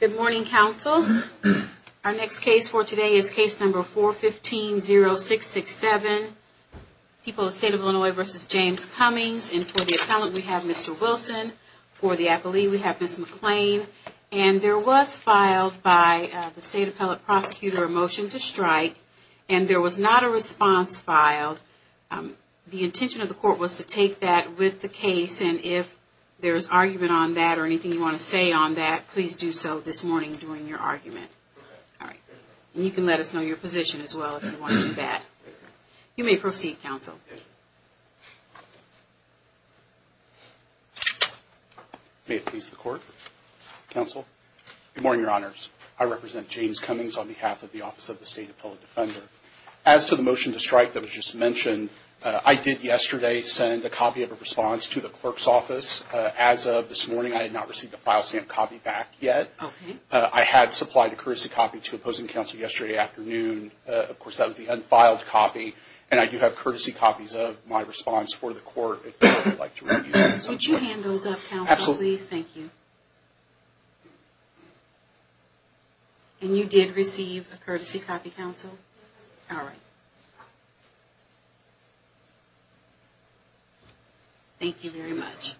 Good morning, counsel. Our next case for today is case number 415-0667, People of the State of Illinois v. James Cummings, and for the appellant we have Mr. Wilson. For the appellee we have Ms. McClain. And there was filed by the state appellate prosecutor a motion to strike, and there was not a response filed. The intention of the court was to take that with the case, and if there is argument on that or anything you want to say on that, please do so this morning during your argument. And you can let us know your position as well if you want to do that. You may proceed, counsel. James Cummings May it please the court, counsel. Good morning, your honors. I represent James Cummings on behalf of the Office of the State Appellate Defender. As to the motion to strike that was just mentioned, I did yesterday send a copy of a response to the clerk's office. As of this morning, I had not received a file stamp copy back yet. I had supplied a courtesy copy to opposing counsel yesterday afternoon. Of course, that was the unfiled copy, and I do have courtesy copies of my response for the court. Would you hand those up, counsel, please? Thank you. And you did receive a courtesy copy, counsel? Alright. Thank you very much.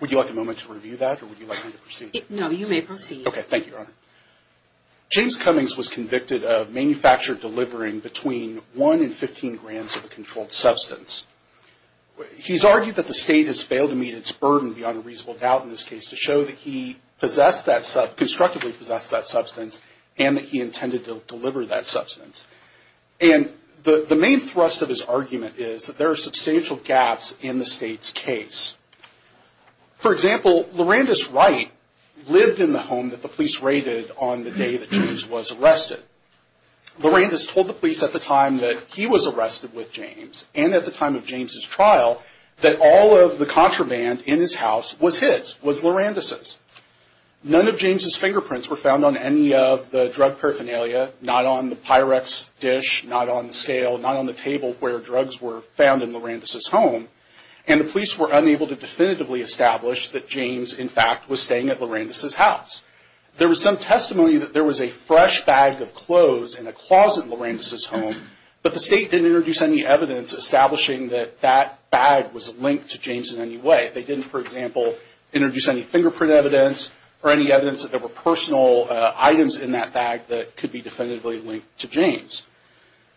Would you like a moment to review that, or would you like me to proceed? No, you may proceed. Okay, thank you, your honor. James Cummings was convicted of manufactured delivering between 1 and 15 grams of a controlled substance. He's argued that the state has failed to meet its burden beyond a reasonable doubt in this case to show that he constructively possessed that substance and that he intended to deliver that substance. And the main thrust of his argument is that there are substantial gaps in the state's case. For example, Laurendis Wright lived in the home that the police raided on the day that James was arrested. Laurendis told the police at the time that he was arrested with James and at the time of James's trial that all of the contraband in his house was his, was Laurendis's. None of James's fingerprints were found on any of the drug paraphernalia, not on the Pyrex dish, not on the scale, not on the table where drugs were found in Laurendis's home. And the police were unable to definitively establish that James, in fact, was staying at Laurendis's house. There was some testimony that there was a fresh bag of clothes in a closet in Laurendis's home, but the state didn't introduce any evidence establishing that that bag was linked to James in any way. They didn't, for example, introduce any fingerprint evidence or any evidence that there were personal items in that bag that could be definitively linked to James.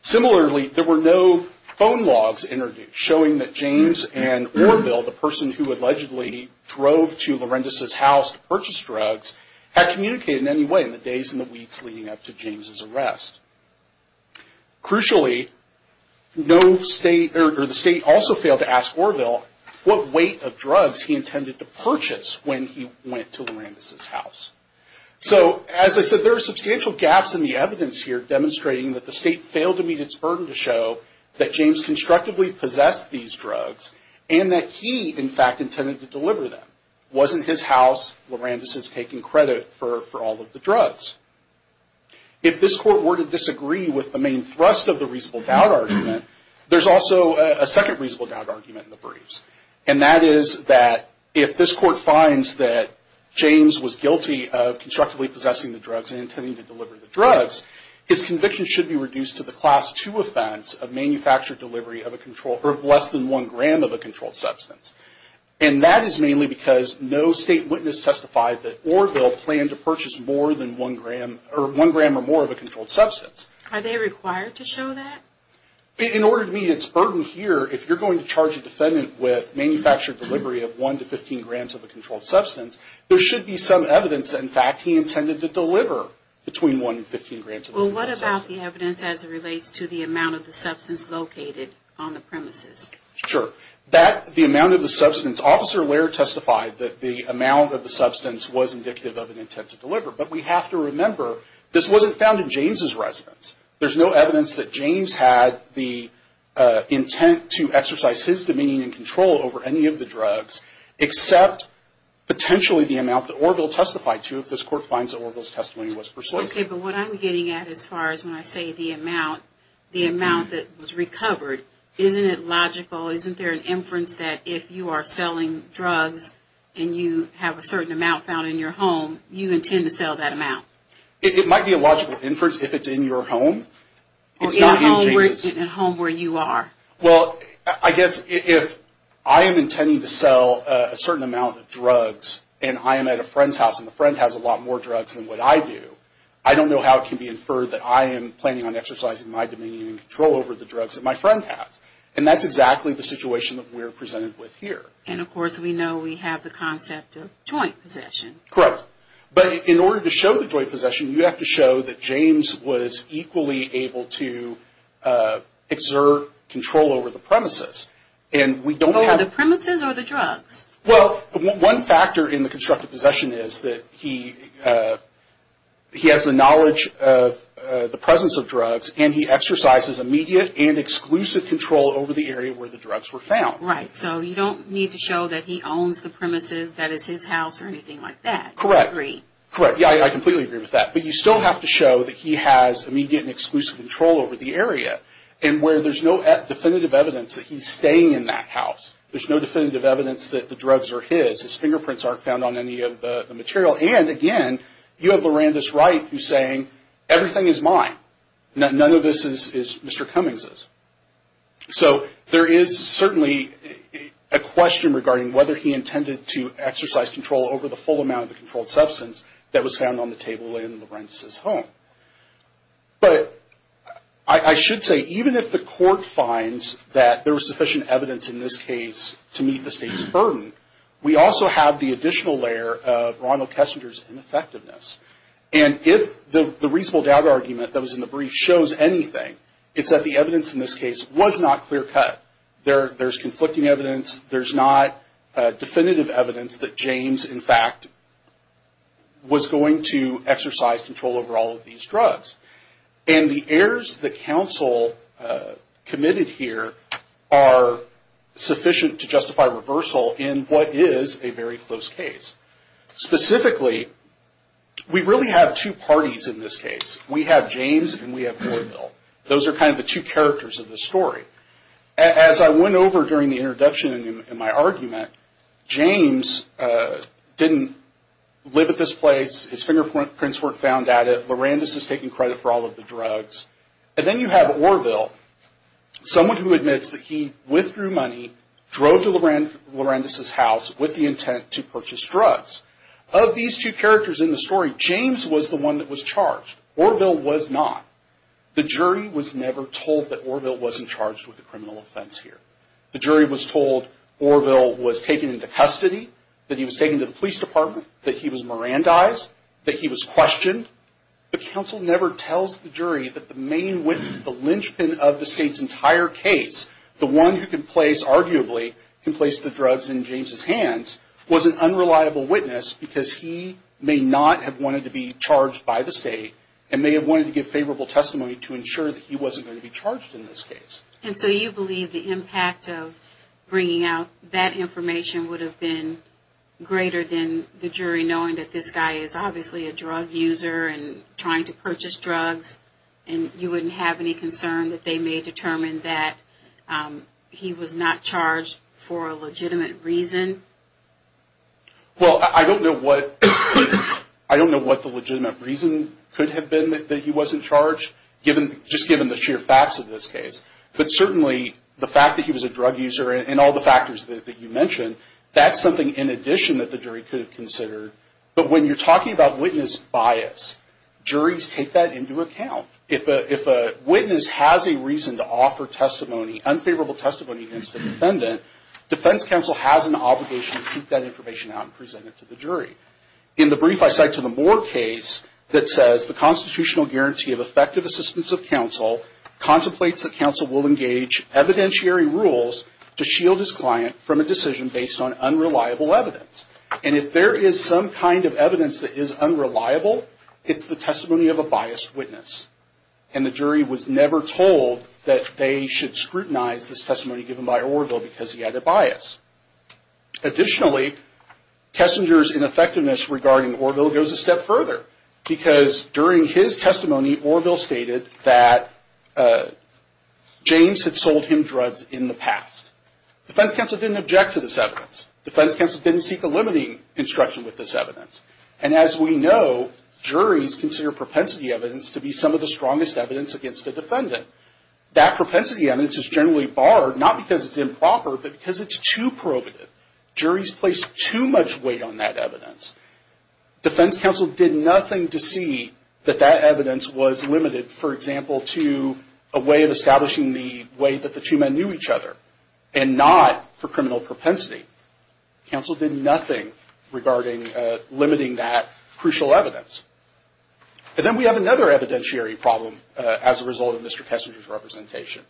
Similarly, there were no phone logs showing that James and Orville, the person who allegedly drove to Laurendis's house to purchase drugs, had communicated in any way in the days and the weeks leading up to James's arrest. Crucially, the state also failed to ask Orville what weight of drugs he intended to purchase when he went to Laurendis's house. So, as I said, there are substantial gaps in the evidence here demonstrating that the state failed to meet its burden to show that James constructively possessed these drugs and that he, in fact, intended to deliver them. It wasn't his house Laurendis is taking credit for all of the drugs. If this court were to disagree with the main thrust of the reasonable doubt argument, there's also a second reasonable doubt argument in the briefs. And that is that if this court finds that James was guilty of constructively possessing the drugs and intending to deliver the drugs, his conviction should be reduced to the Class II offense of manufactured delivery of less than 1 gram of a controlled substance. And that is mainly because no state witness testified that Orville planned to purchase more than 1 gram or more of a controlled substance. Are they required to show that? In order to meet its burden here, if you're going to charge a defendant with manufactured delivery of 1 to 15 grams of a controlled substance, there should be some evidence that, in fact, he intended to deliver between 1 and 15 grams of a controlled substance. Well, what about the evidence as it relates to the amount of the substance located on the premises? Sure. That, the amount of the substance, Officer Lehrer testified that the amount of the substance was indicative of an intent to deliver. But we have to remember, this wasn't found in James's residence. There's no evidence that James had the intent to exercise his dominion and control over any of the drugs except potentially the amount that Orville testified to if this court finds that Orville's testimony was persuasive. Okay, but what I'm getting at as far as when I say the amount, the amount that was recovered, isn't it logical, isn't there an inference that if you are selling drugs and you have a certain amount found in your home, you intend to sell that amount? It might be a logical inference if it's in your home. It's not in James's. In a home where you are. Well, I guess if I am intending to sell a certain amount of drugs and I am at a friend's house and the friend has a lot more drugs than what I do, I don't know how it can be inferred that I am planning on exercising my dominion and control over the drugs that my friend has. And that's exactly the situation that we're presented with here. And, of course, we know we have the concept of joint possession. Correct. But in order to show the joint possession, you have to show that James was equally able to exert control over the premises. Over the premises or the drugs? Well, one factor in the constructive possession is that he has the knowledge of the presence of drugs and he exercises immediate and exclusive control over the area where the drugs were found. Right. So you don't need to show that he owns the premises that is his house or anything like that. Correct. Yeah, I completely agree with that. But you still have to show that he has immediate and exclusive control over the area and where there's no definitive evidence that he's staying in that house. There's no definitive evidence that the drugs are his. His fingerprints aren't found on any of the material. And, again, you have Laurandus Wright who's saying everything is mine. None of this is Mr. Cummings's. So there is certainly a question regarding whether he intended to exercise control over the full amount of the controlled substance that was found on the table in Laurandus's home. But I should say even if the court finds that there was sufficient evidence in this case to meet the state's burden, we also have the additional layer of Ronald Kessinger's ineffectiveness. And if the reasonable doubt argument that was in the brief shows anything, it's that the evidence in this case was not clear cut. There's conflicting evidence. There's not definitive evidence that James, in fact, was going to exercise control over all of these drugs. And the errors that counsel committed here are sufficient to justify reversal in what is a very close case. Specifically, we really have two parties in this case. We have James and we have Orville. Those are kind of the two characters of the story. As I went over during the introduction in my argument, James didn't live at this place. His fingerprints weren't found at it. And then you have Orville, someone who admits that he withdrew money, drove to Laurandus's house with the intent to purchase drugs. Of these two characters in the story, James was the one that was charged. Orville was not. The jury was never told that Orville wasn't charged with a criminal offense here. The jury was told Orville was taken into custody, that he was taken to the police department, that he was Mirandized, that he was questioned. But counsel never tells the jury that the main witness, the linchpin of the state's entire case, the one who can place, arguably, can place the drugs in James' hands, was an unreliable witness because he may not have wanted to be charged by the state and may have wanted to give favorable testimony to ensure that he wasn't going to be charged in this case. And so you believe the impact of bringing out that information would have been greater than the jury knowing that this guy is obviously a drug user and trying to purchase drugs and you wouldn't have any concern that they may determine that he was not charged for a legitimate reason? Well, I don't know what the legitimate reason could have been that he wasn't charged, just given the sheer facts of this case. But certainly, the fact that he was a drug user and all the factors that you mentioned, that's something in addition that the jury could have considered. But when you're talking about witness bias, juries take that into account. If a witness has a reason to offer unfavorable testimony against a defendant, defense counsel has an obligation to seek that information out and present it to the jury. In the brief I cite to the Moore case that says, the constitutional guarantee of effective assistance of counsel contemplates that counsel will engage evidentiary rules to shield his client from a decision based on unreliable evidence. And if there is some kind of evidence that is unreliable, it's the testimony of a biased witness. And the jury was never told that they should scrutinize this testimony given by Orville because he had a bias. Additionally, Kessinger's ineffectiveness regarding Orville goes a step further. Because during his testimony, Orville stated that James had sold him drugs in the past. Defense counsel didn't object to this evidence. Defense counsel didn't seek a limiting instruction with this evidence. And as we know, juries consider propensity evidence to be some of the strongest evidence against a defendant. That propensity evidence is generally barred, not because it's improper, but because it's too probative. Juries place too much weight on that evidence. Defense counsel did nothing to see that that evidence was limited, for example, to a way of establishing the way that the two men knew each other and not for criminal propensity. Counsel did nothing regarding limiting that crucial evidence. And then we have another evidentiary problem as a result of Mr. Kessinger's representation.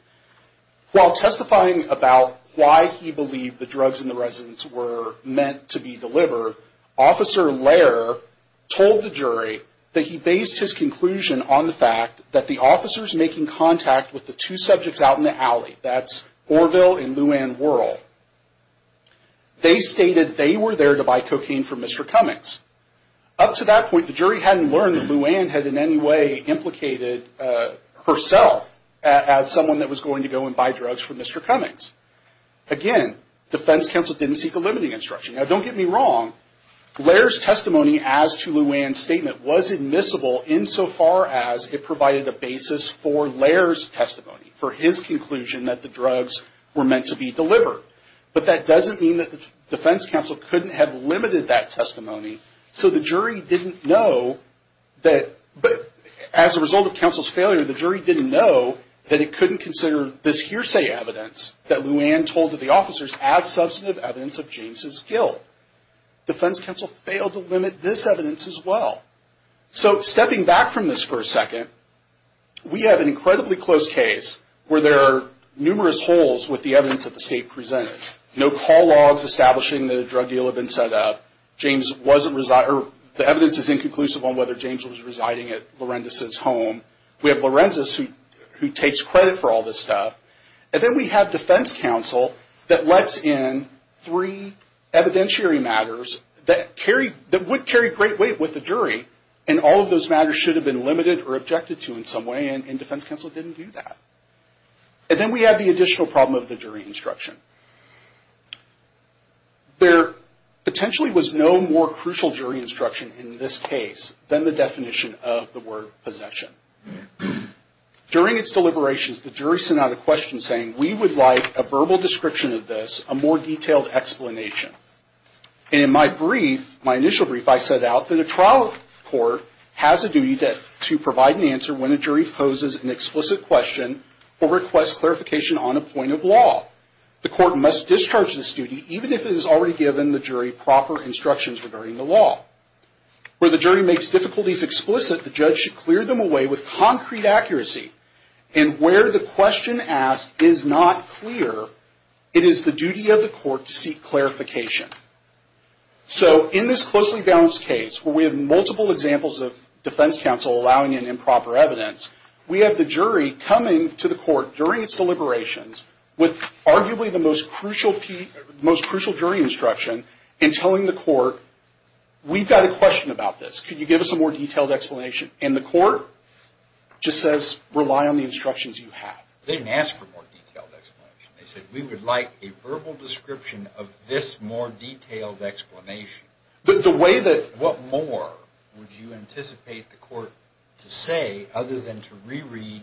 While testifying about why he believed the drugs in the residence were meant to be delivered, Officer Lehrer told the jury that he based his conclusion on the fact that the officers making contact with the two subjects out in the alley, that's Orville and Luann Worrell, they stated they were there to buy cocaine from Mr. Cummings. Up to that point, the jury hadn't learned that Luann had in any way implicated herself as someone that was going to go and buy drugs from Mr. Cummings. Again, defense counsel didn't seek a limiting instruction. Now, don't get me wrong, Lehrer's testimony as to Luann's statement was admissible insofar as it provided a basis for Lehrer's testimony, for his conclusion that the drugs were meant to be delivered. But that doesn't mean that the defense counsel couldn't have limited that testimony so the jury didn't know that as a result of counsel's failure, the jury didn't know that it couldn't consider this hearsay evidence that Luann told to the officers as substantive evidence of James' guilt. Defense counsel failed to limit this evidence as well. So, stepping back from this for a second, we have an incredibly close case where there are numerous holes with the evidence that the state presented. No call logs establishing that a drug deal had been set up. The evidence is inconclusive on whether James was residing at Lorenzis' home. We have Lorenzis who takes credit for all this stuff. And then we have defense counsel that lets in three evidentiary matters that would carry great weight with the jury, and all of those matters should have been limited or objected to in some way, and defense counsel didn't do that. And then we have the additional problem of the jury instruction. There potentially was no more crucial jury instruction in this case than the definition of the word possession. During its deliberations, the jury sent out a question saying, we would like a verbal description of this, a more detailed explanation. And in my brief, my initial brief, I set out that a trial court has a duty to provide an answer when a jury poses an explicit question or requests clarification on a point of law. The court must discharge this duty, even if it has already given the jury proper instructions regarding the law. Where the jury makes difficulties explicit, the judge should clear them away with concrete accuracy. And where the question asked is not clear, it is the duty of the court to seek clarification. So in this closely balanced case, where we have multiple examples of defense counsel allowing an improper evidence, we have the jury coming to the court during its deliberations with arguably the most crucial jury instruction and telling the court, we've got a question about this. Could you give us a more detailed explanation? And the court just says, rely on the instructions you have. They didn't ask for a more detailed explanation. They said, we would like a verbal description of this more detailed explanation. The way that... What more would you anticipate the court to say other than to reread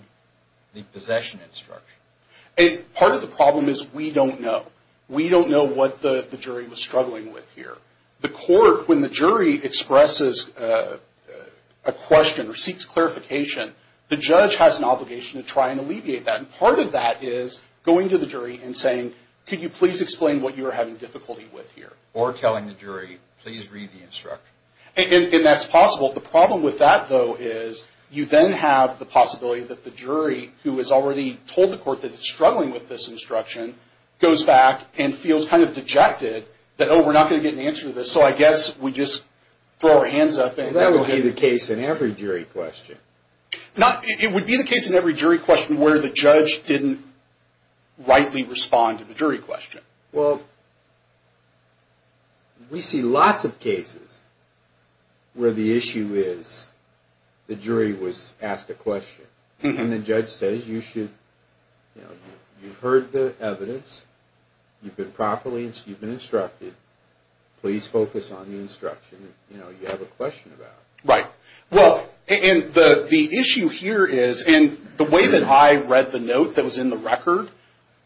the possession instruction? Part of the problem is we don't know. We don't know what the jury was struggling with here. The court, when the jury expresses a question or seeks clarification, the judge has an obligation to try and alleviate that. And part of that is going to the jury and saying, could you please explain what you are having difficulty with here? Or telling the jury, please read the instruction. And that's possible. The problem with that, though, is you then have the possibility that the jury, who has already told the court that it's struggling with this instruction, goes back and feels kind of dejected that, no, we're not going to get an answer to this. So I guess we just throw our hands up and... That would be the case in every jury question. It would be the case in every jury question where the judge didn't rightly respond to the jury question. Well, we see lots of cases where the issue is the jury was asked a question. And the judge says, you've heard the evidence. You've been properly instructed. Please focus on the instruction. You know, you have a question about it. Right. Well, and the issue here is, and the way that I read the note that was in the record,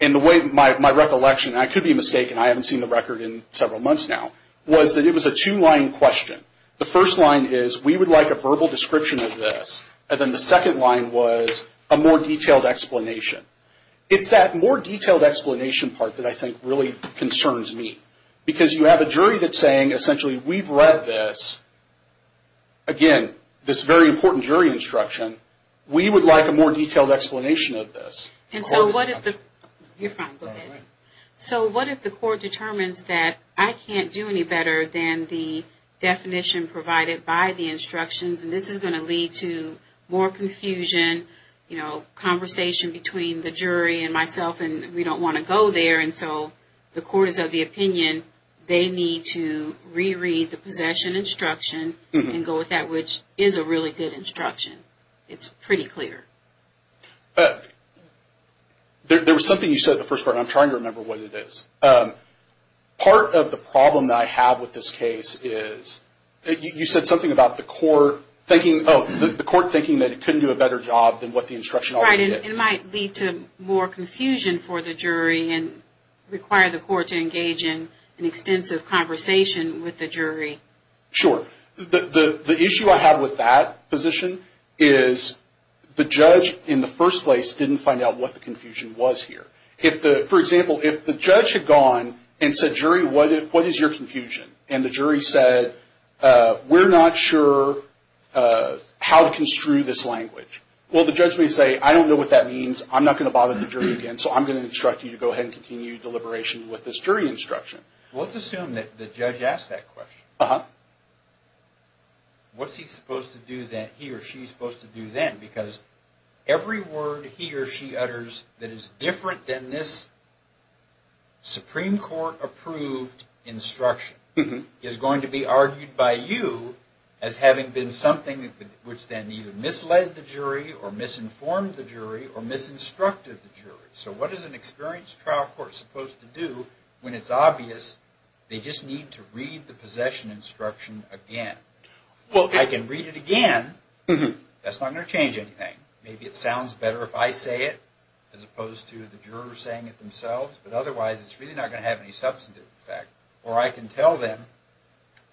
and the way my recollection, and I could be mistaken, I haven't seen the record in several months now, was that it was a two-line question. The first line is, we would like a verbal description of this. And then the second line was a more detailed explanation. It's that more detailed explanation part that I think really concerns me. Because you have a jury that's saying, essentially, we've read this. Again, this very important jury instruction. We would like a more detailed explanation of this. And so what if the court determines that I can't do any better than the definition provided by the instructions, and this is going to lead to more confusion, conversation between the jury and myself, and we don't want to go there. And so the court is of the opinion they need to re-read the possession instruction and go with that, which is a really good instruction. It's pretty clear. There was something you said at the first part, and I'm trying to remember what it is. Part of the problem that I have with this case is, you said something about the court thinking, that it couldn't do a better job than what the instruction already did. Right, and it might lead to more confusion for the jury and require the court to engage in an extensive conversation with the jury. Sure. The issue I have with that position is, the judge in the first place didn't find out what the confusion was here. For example, if the judge had gone and said, jury, what is your confusion? And the jury said, we're not sure how to construe this language. Well, the judge may say, I don't know what that means. I'm not going to bother the jury again, so I'm going to instruct you to go ahead and continue deliberation with this jury instruction. Let's assume that the judge asked that question. Uh-huh. What's he supposed to do then, he or she supposed to do then? Because every word he or she utters that is different than this Supreme Court-approved instruction is going to be argued by you as having been something which then either misled the jury or misinformed the jury or misinstructed the jury. So what is an experienced trial court supposed to do when it's obvious they just need to read the possession instruction again? Well, I can read it again. That's not going to change anything. Maybe it sounds better if I say it as opposed to the jurors saying it themselves, but otherwise it's really not going to have any substantive effect. Or I can tell them,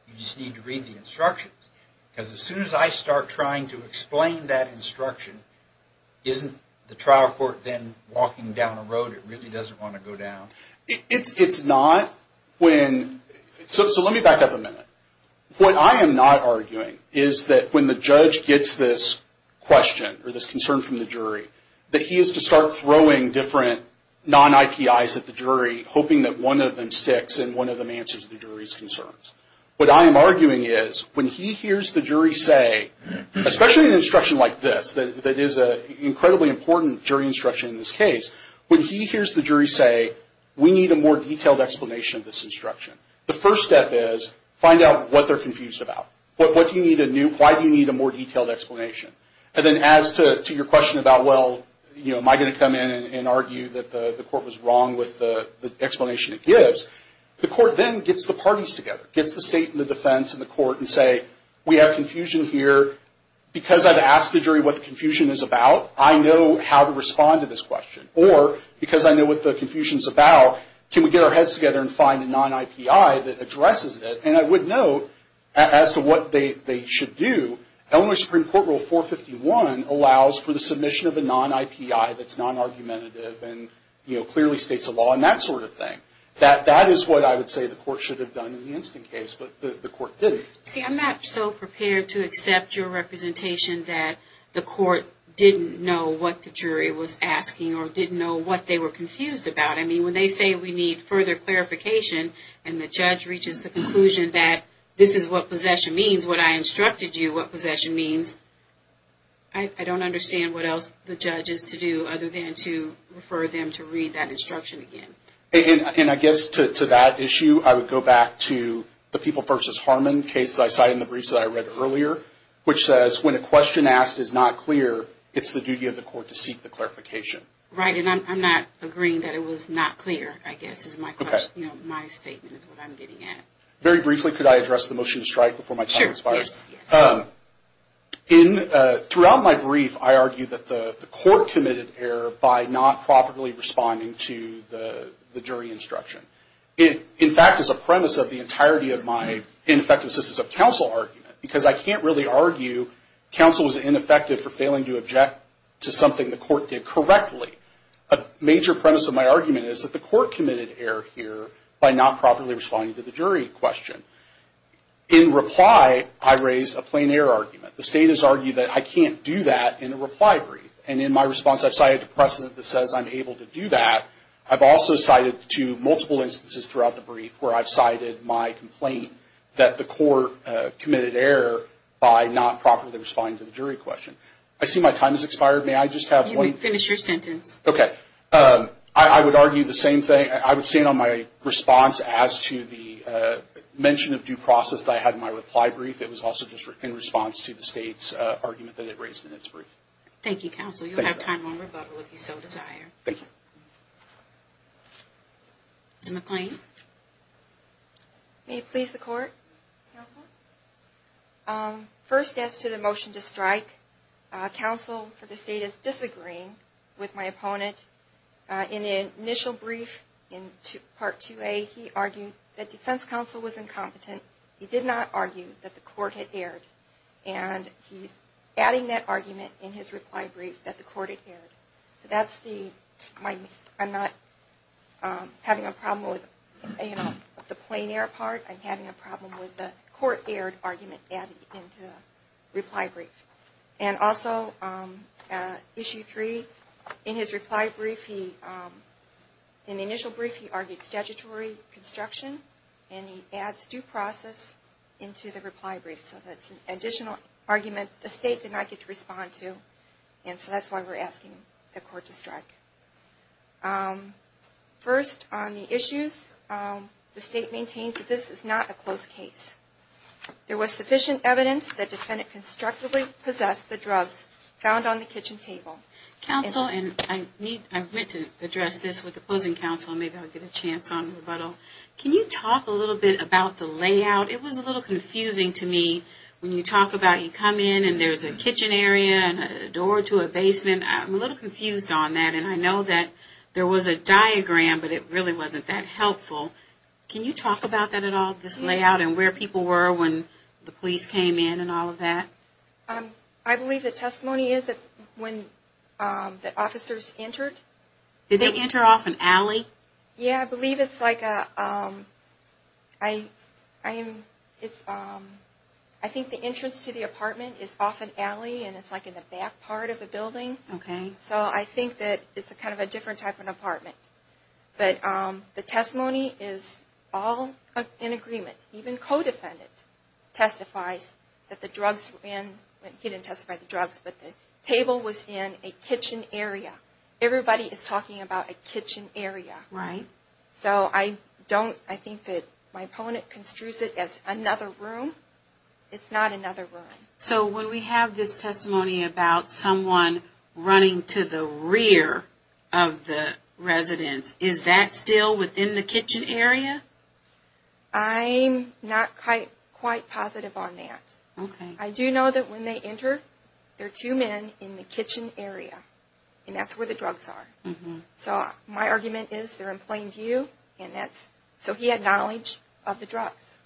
you just need to read the instructions. Because as soon as I start trying to explain that instruction, isn't the trial court then walking down a road it really doesn't want to go down? It's not when... So let me back up a minute. What I am not arguing is that when the judge gets this question or this concern from the jury, that he is to start throwing different non-IPIs at the jury, hoping that one of them sticks and one of them answers the jury's concerns. What I am arguing is when he hears the jury say, especially an instruction like this, that is an incredibly important jury instruction in this case, when he hears the jury say, we need a more detailed explanation of this instruction, the first step is find out what they are confused about. Why do you need a more detailed explanation? And then as to your question about, well, am I going to come in and argue that the court was wrong with the explanation it gives, the court then gets the parties together, gets the state and the defense and the court and say, we have confusion here. Because I have asked the jury what the confusion is about, I know how to respond to this question. Or because I know what the confusion is about, can we get our heads together and find a non-IPI that addresses it? And I would note, as to what they should do, Illinois Supreme Court Rule 451 allows for the submission of a non-IPI that is non-argumentative and clearly states a law and that sort of thing. That is what I would say the court should have done in the instant case, but the court didn't. See, I am not so prepared to accept your representation that the court didn't know what the jury was asking or didn't know what they were confused about. I mean, when they say we need further clarification and the judge reaches the conclusion that this is what possession means, what I instructed you what possession means, I don't understand what else the judge is to do other than to refer them to read that instruction again. And I guess to that issue, I would go back to the People v. Harmon case that I cited in the briefs that I read earlier, which says when a question asked is not clear, it's the duty of the court to seek the clarification. Right, and I'm not agreeing that it was not clear, I guess, is my statement, is what I'm getting at. Very briefly, could I address the motion to strike before my time expires? Sure, yes. Throughout my brief, I argue that the court committed error by not properly responding to the jury instruction. It, in fact, is a premise of the entirety of my ineffective assistance of counsel argument because I can't really argue counsel was ineffective for failing to object to something the court did correctly. A major premise of my argument is that the court committed error here by not properly responding to the jury question. In reply, I raise a plain error argument. The state has argued that I can't do that in a reply brief. And in my response, I've cited a precedent that says I'm able to do that. I've also cited two multiple instances throughout the brief where I've cited my complaint that the court committed error by not properly responding to the jury question. I see my time has expired. May I just have one? You may finish your sentence. Okay. I would argue the same thing. I would stand on my response as to the mention of due process that I had in my reply brief. It was also just in response to the state's argument that it raised in its brief. Thank you, counsel. Thank you. I don't have time. One rebuttal, if you so desire. Thank you. Ms. McClain. May it please the court, counsel? First, as to the motion to strike, counsel for the state is disagreeing with my opponent. In the initial brief in Part 2A, he argued that defense counsel was incompetent. He did not argue that the court had erred. He's adding that argument in his reply brief that the court had erred. I'm not having a problem with the plain error part. I'm having a problem with the court erred argument added into the reply brief. Also, Issue 3, in his reply brief, in the initial brief, he argued statutory construction. And he adds due process into the reply brief. So that's an additional argument the state did not get to respond to. And so that's why we're asking the court to strike. First, on the issues, the state maintains that this is not a closed case. There was sufficient evidence that the defendant constructively possessed the drugs found on the kitchen table. Counsel, and I need to address this with opposing counsel. Maybe I'll get a chance on rebuttal. Can you talk a little bit about the layout? It was a little confusing to me when you talk about you come in and there's a kitchen area and a door to a basement. I'm a little confused on that. And I know that there was a diagram, but it really wasn't that helpful. Can you talk about that at all, this layout and where people were when the police came in and all of that? I believe the testimony is that when the officers entered. Did they enter off an alley? Yeah, I believe it's like a, I think the entrance to the apartment is off an alley and it's like in the back part of the building. Okay. So I think that it's kind of a different type of apartment. But the testimony is all in agreement. Even co-defendant testifies that the drugs were in. He didn't testify to drugs, but the table was in a kitchen area. Everybody is talking about a kitchen area. Right. So I don't, I think that my opponent construes it as another room. It's not another room. So when we have this testimony about someone running to the rear of the residence, is that still within the kitchen area? I'm not quite positive on that. Okay. I do know that when they enter, there are two men in the kitchen area and that's where the drugs are. So my argument is they're in plain view and that's, so he had knowledge of the drugs.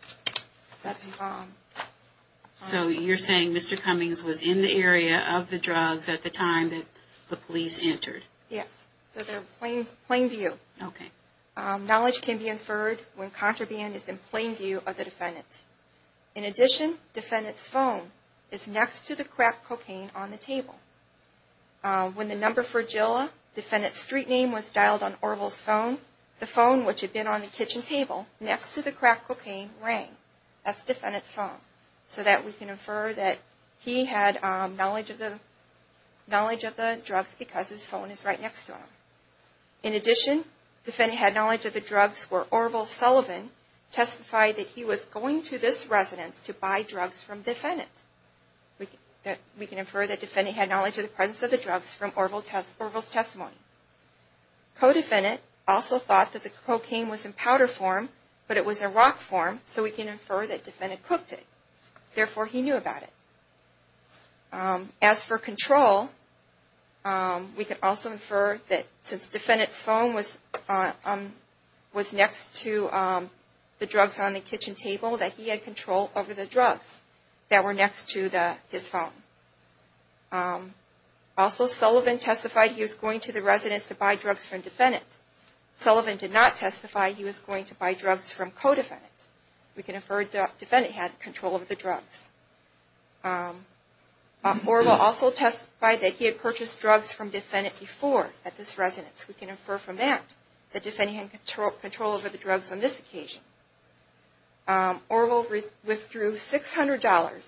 So you're saying Mr. Cummings was in the area of the drugs at the time that the police entered? Yes. So they're in plain view. Okay. Knowledge can be inferred when contraband is in plain view of the defendant. In addition, defendant's phone is next to the crack cocaine on the table. When the number for Jilla, defendant's street name, was dialed on Orville's phone, the phone, which had been on the kitchen table, next to the crack cocaine, rang. That's defendant's phone. So that we can infer that he had knowledge of the drugs because his phone is right next to him. In addition, defendant had knowledge of the drugs where Orville Sullivan testified that he was going to this residence to buy drugs from defendant. We can infer that defendant had knowledge of the presence of the drugs from Orville's testimony. Co-defendant also thought that the cocaine was in powder form, but it was in rock form, so we can infer that defendant cooked it. Therefore, he knew about it. As for control, we can also infer that since defendant's phone was next to the drugs on the kitchen table, that he had control over the drugs that were next to his phone. Also, Sullivan testified he was going to the residence to buy drugs from defendant. Sullivan did not testify he was going to buy drugs from co-defendant. We can infer that defendant had control over the drugs. Orville also testified that he had purchased drugs from defendant before at this residence. We can infer from that that defendant had control over the drugs on this occasion. Orville withdrew $600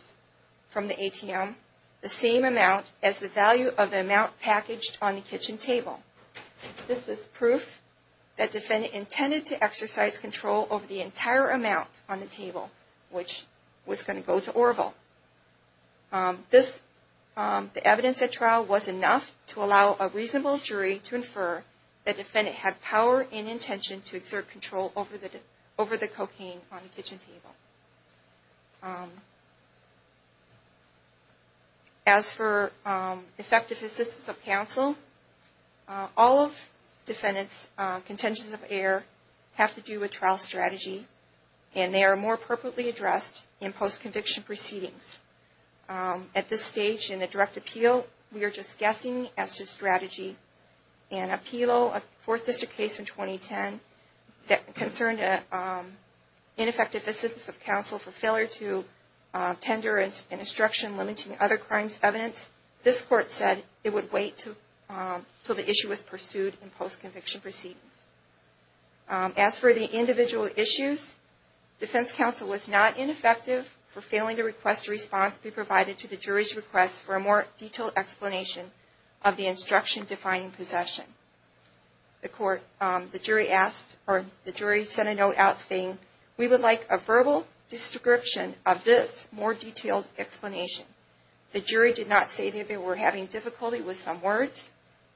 from the ATM, the same amount as the value of the amount packaged on the kitchen table. This is proof that defendant intended to exercise control over the entire amount on the table, which was going to go to Orville. The evidence at trial was enough to allow a reasonable jury to infer that defendant had power and intention to exert control over the cocaine on the kitchen table. As for effective assistance of counsel, all of defendant's contentions of error have to do with trial strategy, and they are more appropriately addressed in post-conviction proceedings. At this stage in the direct appeal, we are just guessing as to strategy. In a fourth district case in 2010 that concerned ineffective assistance of counsel for failure to tender an instruction limiting other crimes evidence, this Court said it would wait until the issue was pursued in post-conviction proceedings. As for the individual issues, defense counsel was not ineffective for failing to request a response be provided to the jury's request for a more detailed explanation of the instruction defining possession. The jury sent a note out saying, we would like a verbal description of this more detailed explanation. The jury did not say they were having difficulty with some words.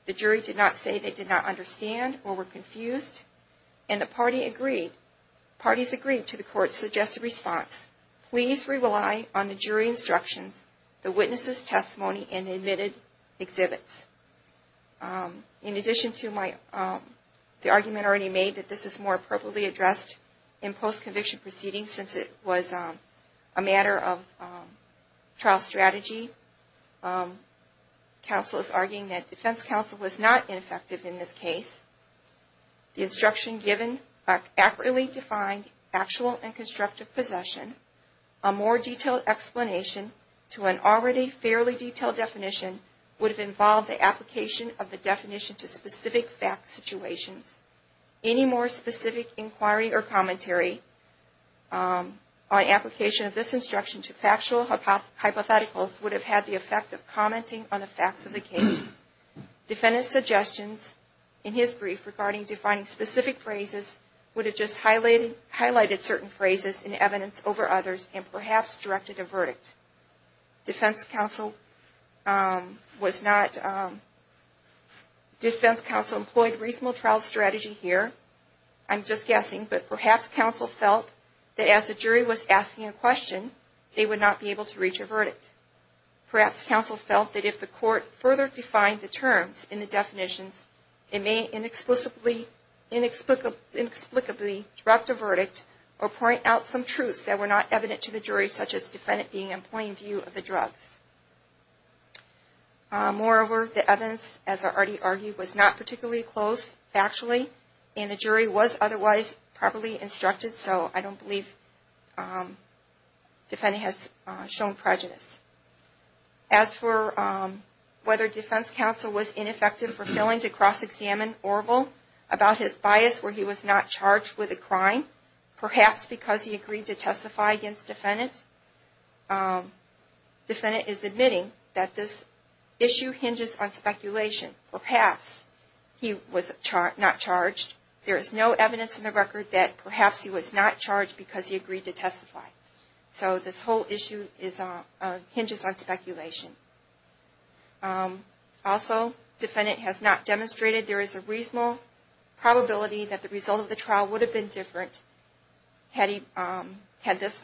The jury did not say they did not understand or were confused. And the parties agreed to the Court's suggested response. Please rely on the jury instructions, the witness's testimony, and the admitted exhibits. In addition to the argument already made that this is more appropriately addressed in post-conviction proceedings since it was a matter of trial strategy, counsel is arguing that defense counsel was not ineffective in this case. The instruction giving an accurately defined factual and constructive possession, a more detailed explanation to an already fairly detailed definition, would have involved the application of the definition to specific fact situations. Any more specific inquiry or commentary on application of this instruction to factual hypotheticals would have had the effect of commenting on the facts of the case. Defendant's suggestions in his brief regarding defining specific phrases would have just highlighted certain phrases in evidence over others and perhaps directed a verdict. Defense counsel employed reasonable trial strategy here, I'm just guessing, but perhaps counsel felt that as the jury was asking a question, they would not be able to reach a verdict. Perhaps counsel felt that if the Court further defined the terms in the definitions, it may inexplicably direct a verdict or point out some truths that were not evident to the jury, such as defendant being in plain view of the drugs. Moreover, the evidence, as I already argued, was not particularly close factually, and the jury was otherwise properly instructed, so I don't believe defendant has shown prejudice. As for whether defense counsel was ineffective for failing to cross-examine Orville about his bias where he was not charged with a crime, perhaps because he agreed to testify against defendant. Defendant is admitting that this issue hinges on speculation. Perhaps he was not charged. There is no evidence in the record that perhaps he was not charged because he agreed to testify. So this whole issue hinges on speculation. Also, defendant has not demonstrated there is a reasonable probability that the result of the trial would have been different had this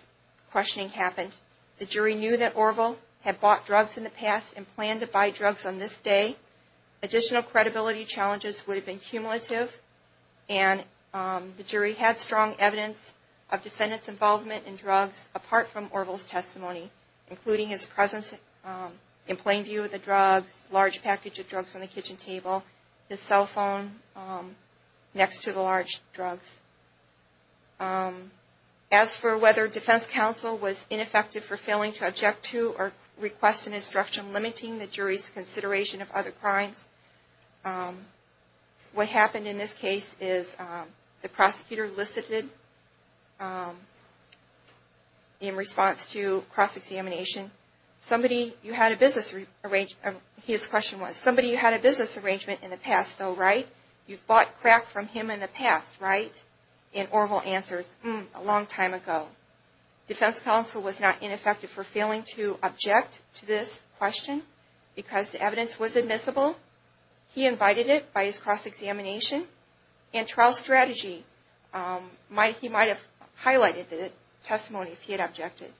questioning happened. The jury knew that Orville had bought drugs in the past and planned to buy drugs on this day. Additional credibility challenges would have been cumulative, and the jury had strong evidence of defendant's involvement in drugs apart from Orville's testimony, including his presence in plain view of the drugs, large package of drugs on the kitchen table, his cell phone next to the large drugs. As for whether defense counsel was ineffective for failing to object to or request an instruction limiting the jury's consideration of other crimes, what happened in this case is the prosecutor elicited in response to cross-examination, his question was, somebody you had a business arrangement in the past though, right? You've bought crack from him in the past, right? And Orville answers, a long time ago. Defense counsel was not ineffective for failing to object to this question because the evidence was admissible. He invited it by his cross-examination and trial strategy. He might have highlighted the testimony if he had objected.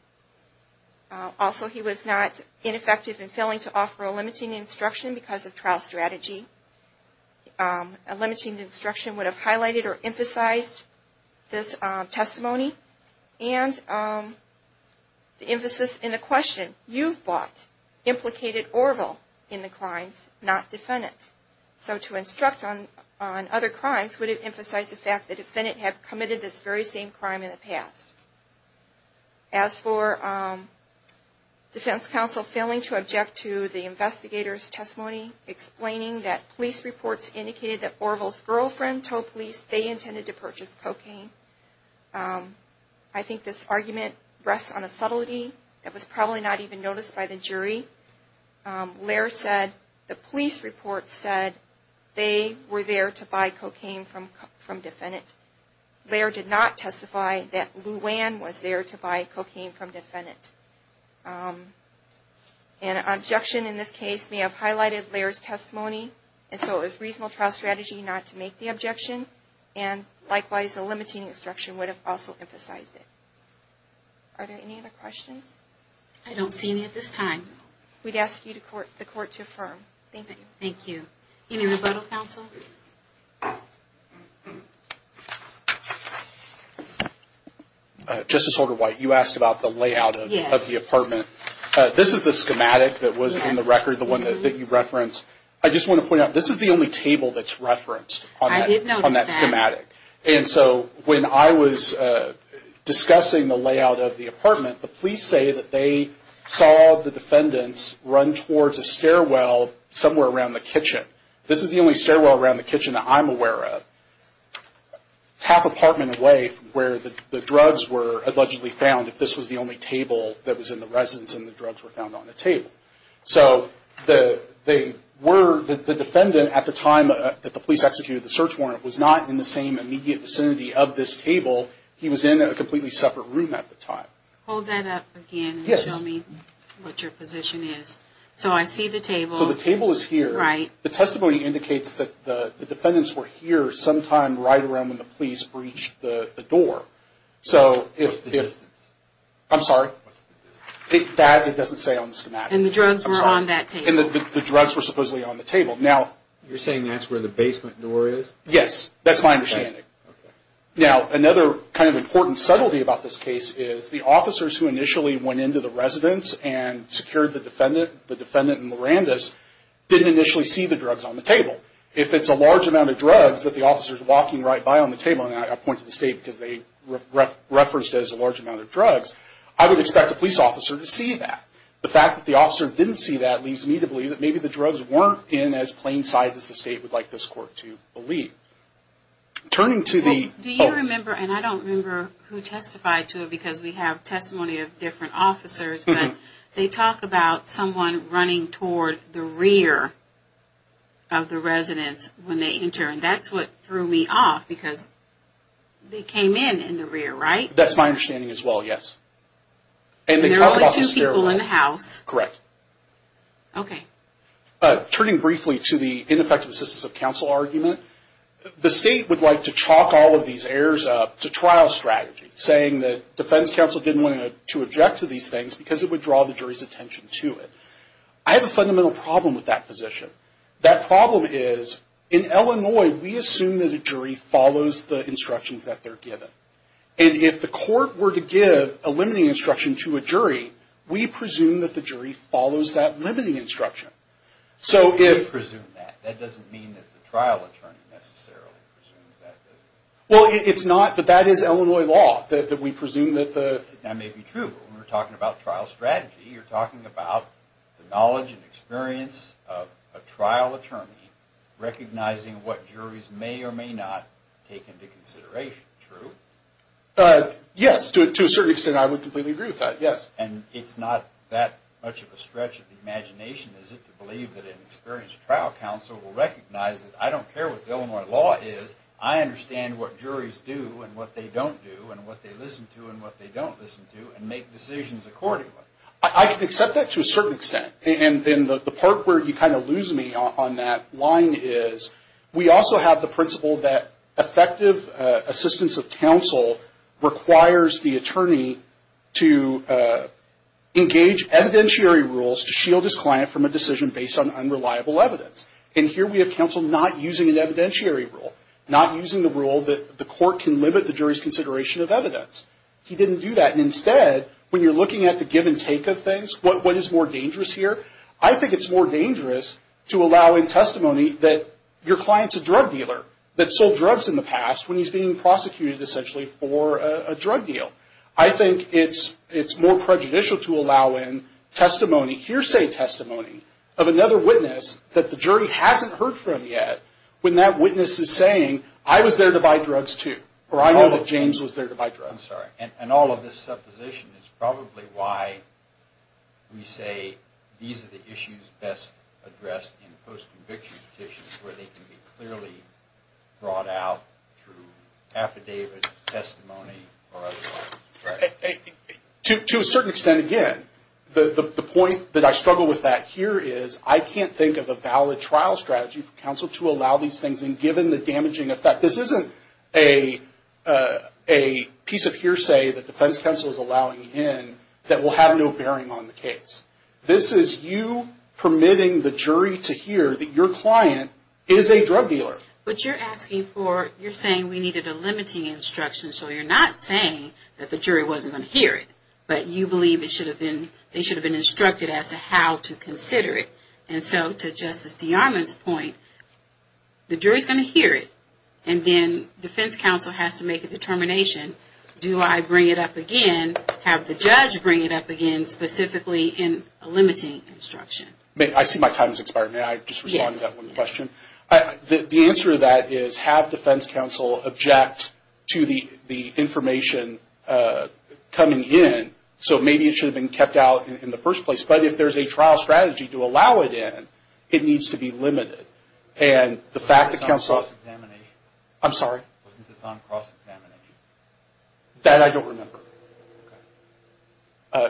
Also, he was not ineffective in failing to offer a limiting instruction because of trial strategy. A limiting instruction would have highlighted or emphasized this testimony, and the emphasis in the question, you've bought implicated Orville in the crimes, not defendant. So to instruct on other crimes would have emphasized the fact the defendant had committed this very same crime in the past. As for defense counsel failing to object to the investigator's testimony explaining that police reports indicated that Orville's girlfriend told police they intended to purchase cocaine, I think this argument rests on a subtlety that was probably not even noticed by the jury. Laird said the police report said they were there to buy cocaine from defendant. Laird did not testify that Luann was there to buy cocaine from defendant. An objection in this case may have highlighted Laird's testimony, and so it was reasonable trial strategy not to make the objection, and likewise a limiting instruction would have also emphasized it. Are there any other questions? I don't see any at this time. We'd ask the court to affirm. Thank you. Thank you. Any rebuttal, counsel? Justice Holder-White, you asked about the layout of the apartment. This is the schematic that was in the record, the one that you referenced. I just want to point out this is the only table that's referenced on that schematic, and so when I was discussing the layout of the apartment, the police say that they saw the defendants run towards a stairwell somewhere around the kitchen. This is the only stairwell around the kitchen that I'm aware of. It's half apartment away from where the drugs were allegedly found, if this was the only table that was in the residence and the drugs were found on the table. So the defendant at the time that the police executed the search warrant was not in the same immediate vicinity of this table. He was in a completely separate room at the time. Hold that up again and show me what your position is. So I see the table. So the table is here. Right. The testimony indicates that the defendants were here sometime right around when the police breached the door. What's the distance? I'm sorry? What's the distance? That it doesn't say on the schematic. And the drugs were on that table. And the drugs were supposedly on the table. You're saying that's where the basement door is? Yes, that's my understanding. Now, another kind of important subtlety about this case is the officers who initially went into the residence and secured the defendant, the defendant and Miranda's, didn't initially see the drugs on the table. If it's a large amount of drugs that the officer is walking right by on the table, and I point to the state because they referenced it as a large amount of drugs, I would expect the police officer to see that. The fact that the officer didn't see that leads me to believe that maybe the drugs weren't in as plain sight as the state would like this court to believe. Turning to the... Do you remember, and I don't remember who testified to it because we have testimony of different officers, but they talk about someone running toward the rear of the residence when they enter, and that's what threw me off because they came in in the rear, right? That's my understanding as well, yes. And there were only two people in the house. Correct. Okay. Turning briefly to the ineffective assistance of counsel argument, the state would like to chalk all of these errors up to trial strategy, saying that defense counsel didn't want to object to these things because it would draw the jury's attention to it. I have a fundamental problem with that position. That problem is in Illinois, we assume that a jury follows the instructions that they're given. Right. We presume that the jury follows that limiting instruction. So if... We don't presume that. That doesn't mean that the trial attorney necessarily presumes that, does it? Well, it's not, but that is Illinois law, that we presume that the... That may be true. When we're talking about trial strategy, you're talking about the knowledge and experience of a trial attorney recognizing what juries may or may not take into consideration, true? Yes, to a certain extent, I would completely agree with that, yes. And it's not that much of a stretch of the imagination, is it, to believe that an experienced trial counsel will recognize that I don't care what Illinois law is, I understand what juries do and what they don't do and what they listen to and what they don't listen to and make decisions accordingly. I can accept that to a certain extent. And the part where you kind of lose me on that line is we also have the principle that effective assistance of counsel requires the attorney to engage evidentiary rules to shield his client from a decision based on unreliable evidence. And here we have counsel not using an evidentiary rule, not using the rule that the court can limit the jury's consideration of evidence. He didn't do that. And instead, when you're looking at the give and take of things, what is more dangerous here? I think it's more dangerous to allow in testimony that your client's a drug dealer, that sold drugs in the past when he's being prosecuted essentially for a drug deal. I think it's more prejudicial to allow in testimony, hearsay testimony, of another witness that the jury hasn't heard from yet when that witness is saying, I was there to buy drugs too, or I know that James was there to buy drugs. I'm sorry. And all of this supposition is probably why we say these are the issues best addressed in post-conviction petitions where they can be clearly brought out through affidavit, testimony, or otherwise. To a certain extent, again, the point that I struggle with that here is, I can't think of a valid trial strategy for counsel to allow these things in given the damaging effect. This isn't a piece of hearsay that defense counsel is allowing in that will have no bearing on the case. This is you permitting the jury to hear that your client is a drug dealer. But you're asking for, you're saying we needed a limiting instruction, so you're not saying that the jury wasn't going to hear it, but you believe they should have been instructed as to how to consider it. And so to Justice DeArmond's point, the jury's going to hear it, and then defense counsel has to make a determination, do I bring it up again, have the judge bring it up again, specifically in a limiting instruction. I see my time has expired. May I just respond to that one question? Yes. The answer to that is, have defense counsel object to the information coming in, so maybe it should have been kept out in the first place. But if there's a trial strategy to allow it in, it needs to be limited. Wasn't this on cross-examination? I'm sorry? Wasn't this on cross-examination? That I don't remember.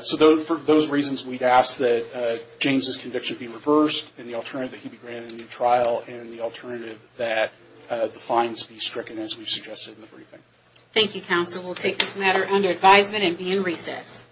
So for those reasons, we'd ask that James's conviction be reversed, and the alternative that he be granted a new trial, and the alternative that the fines be stricken, as we suggested in the briefing. Thank you, counsel. We'll take this matter under advisement and be in recess.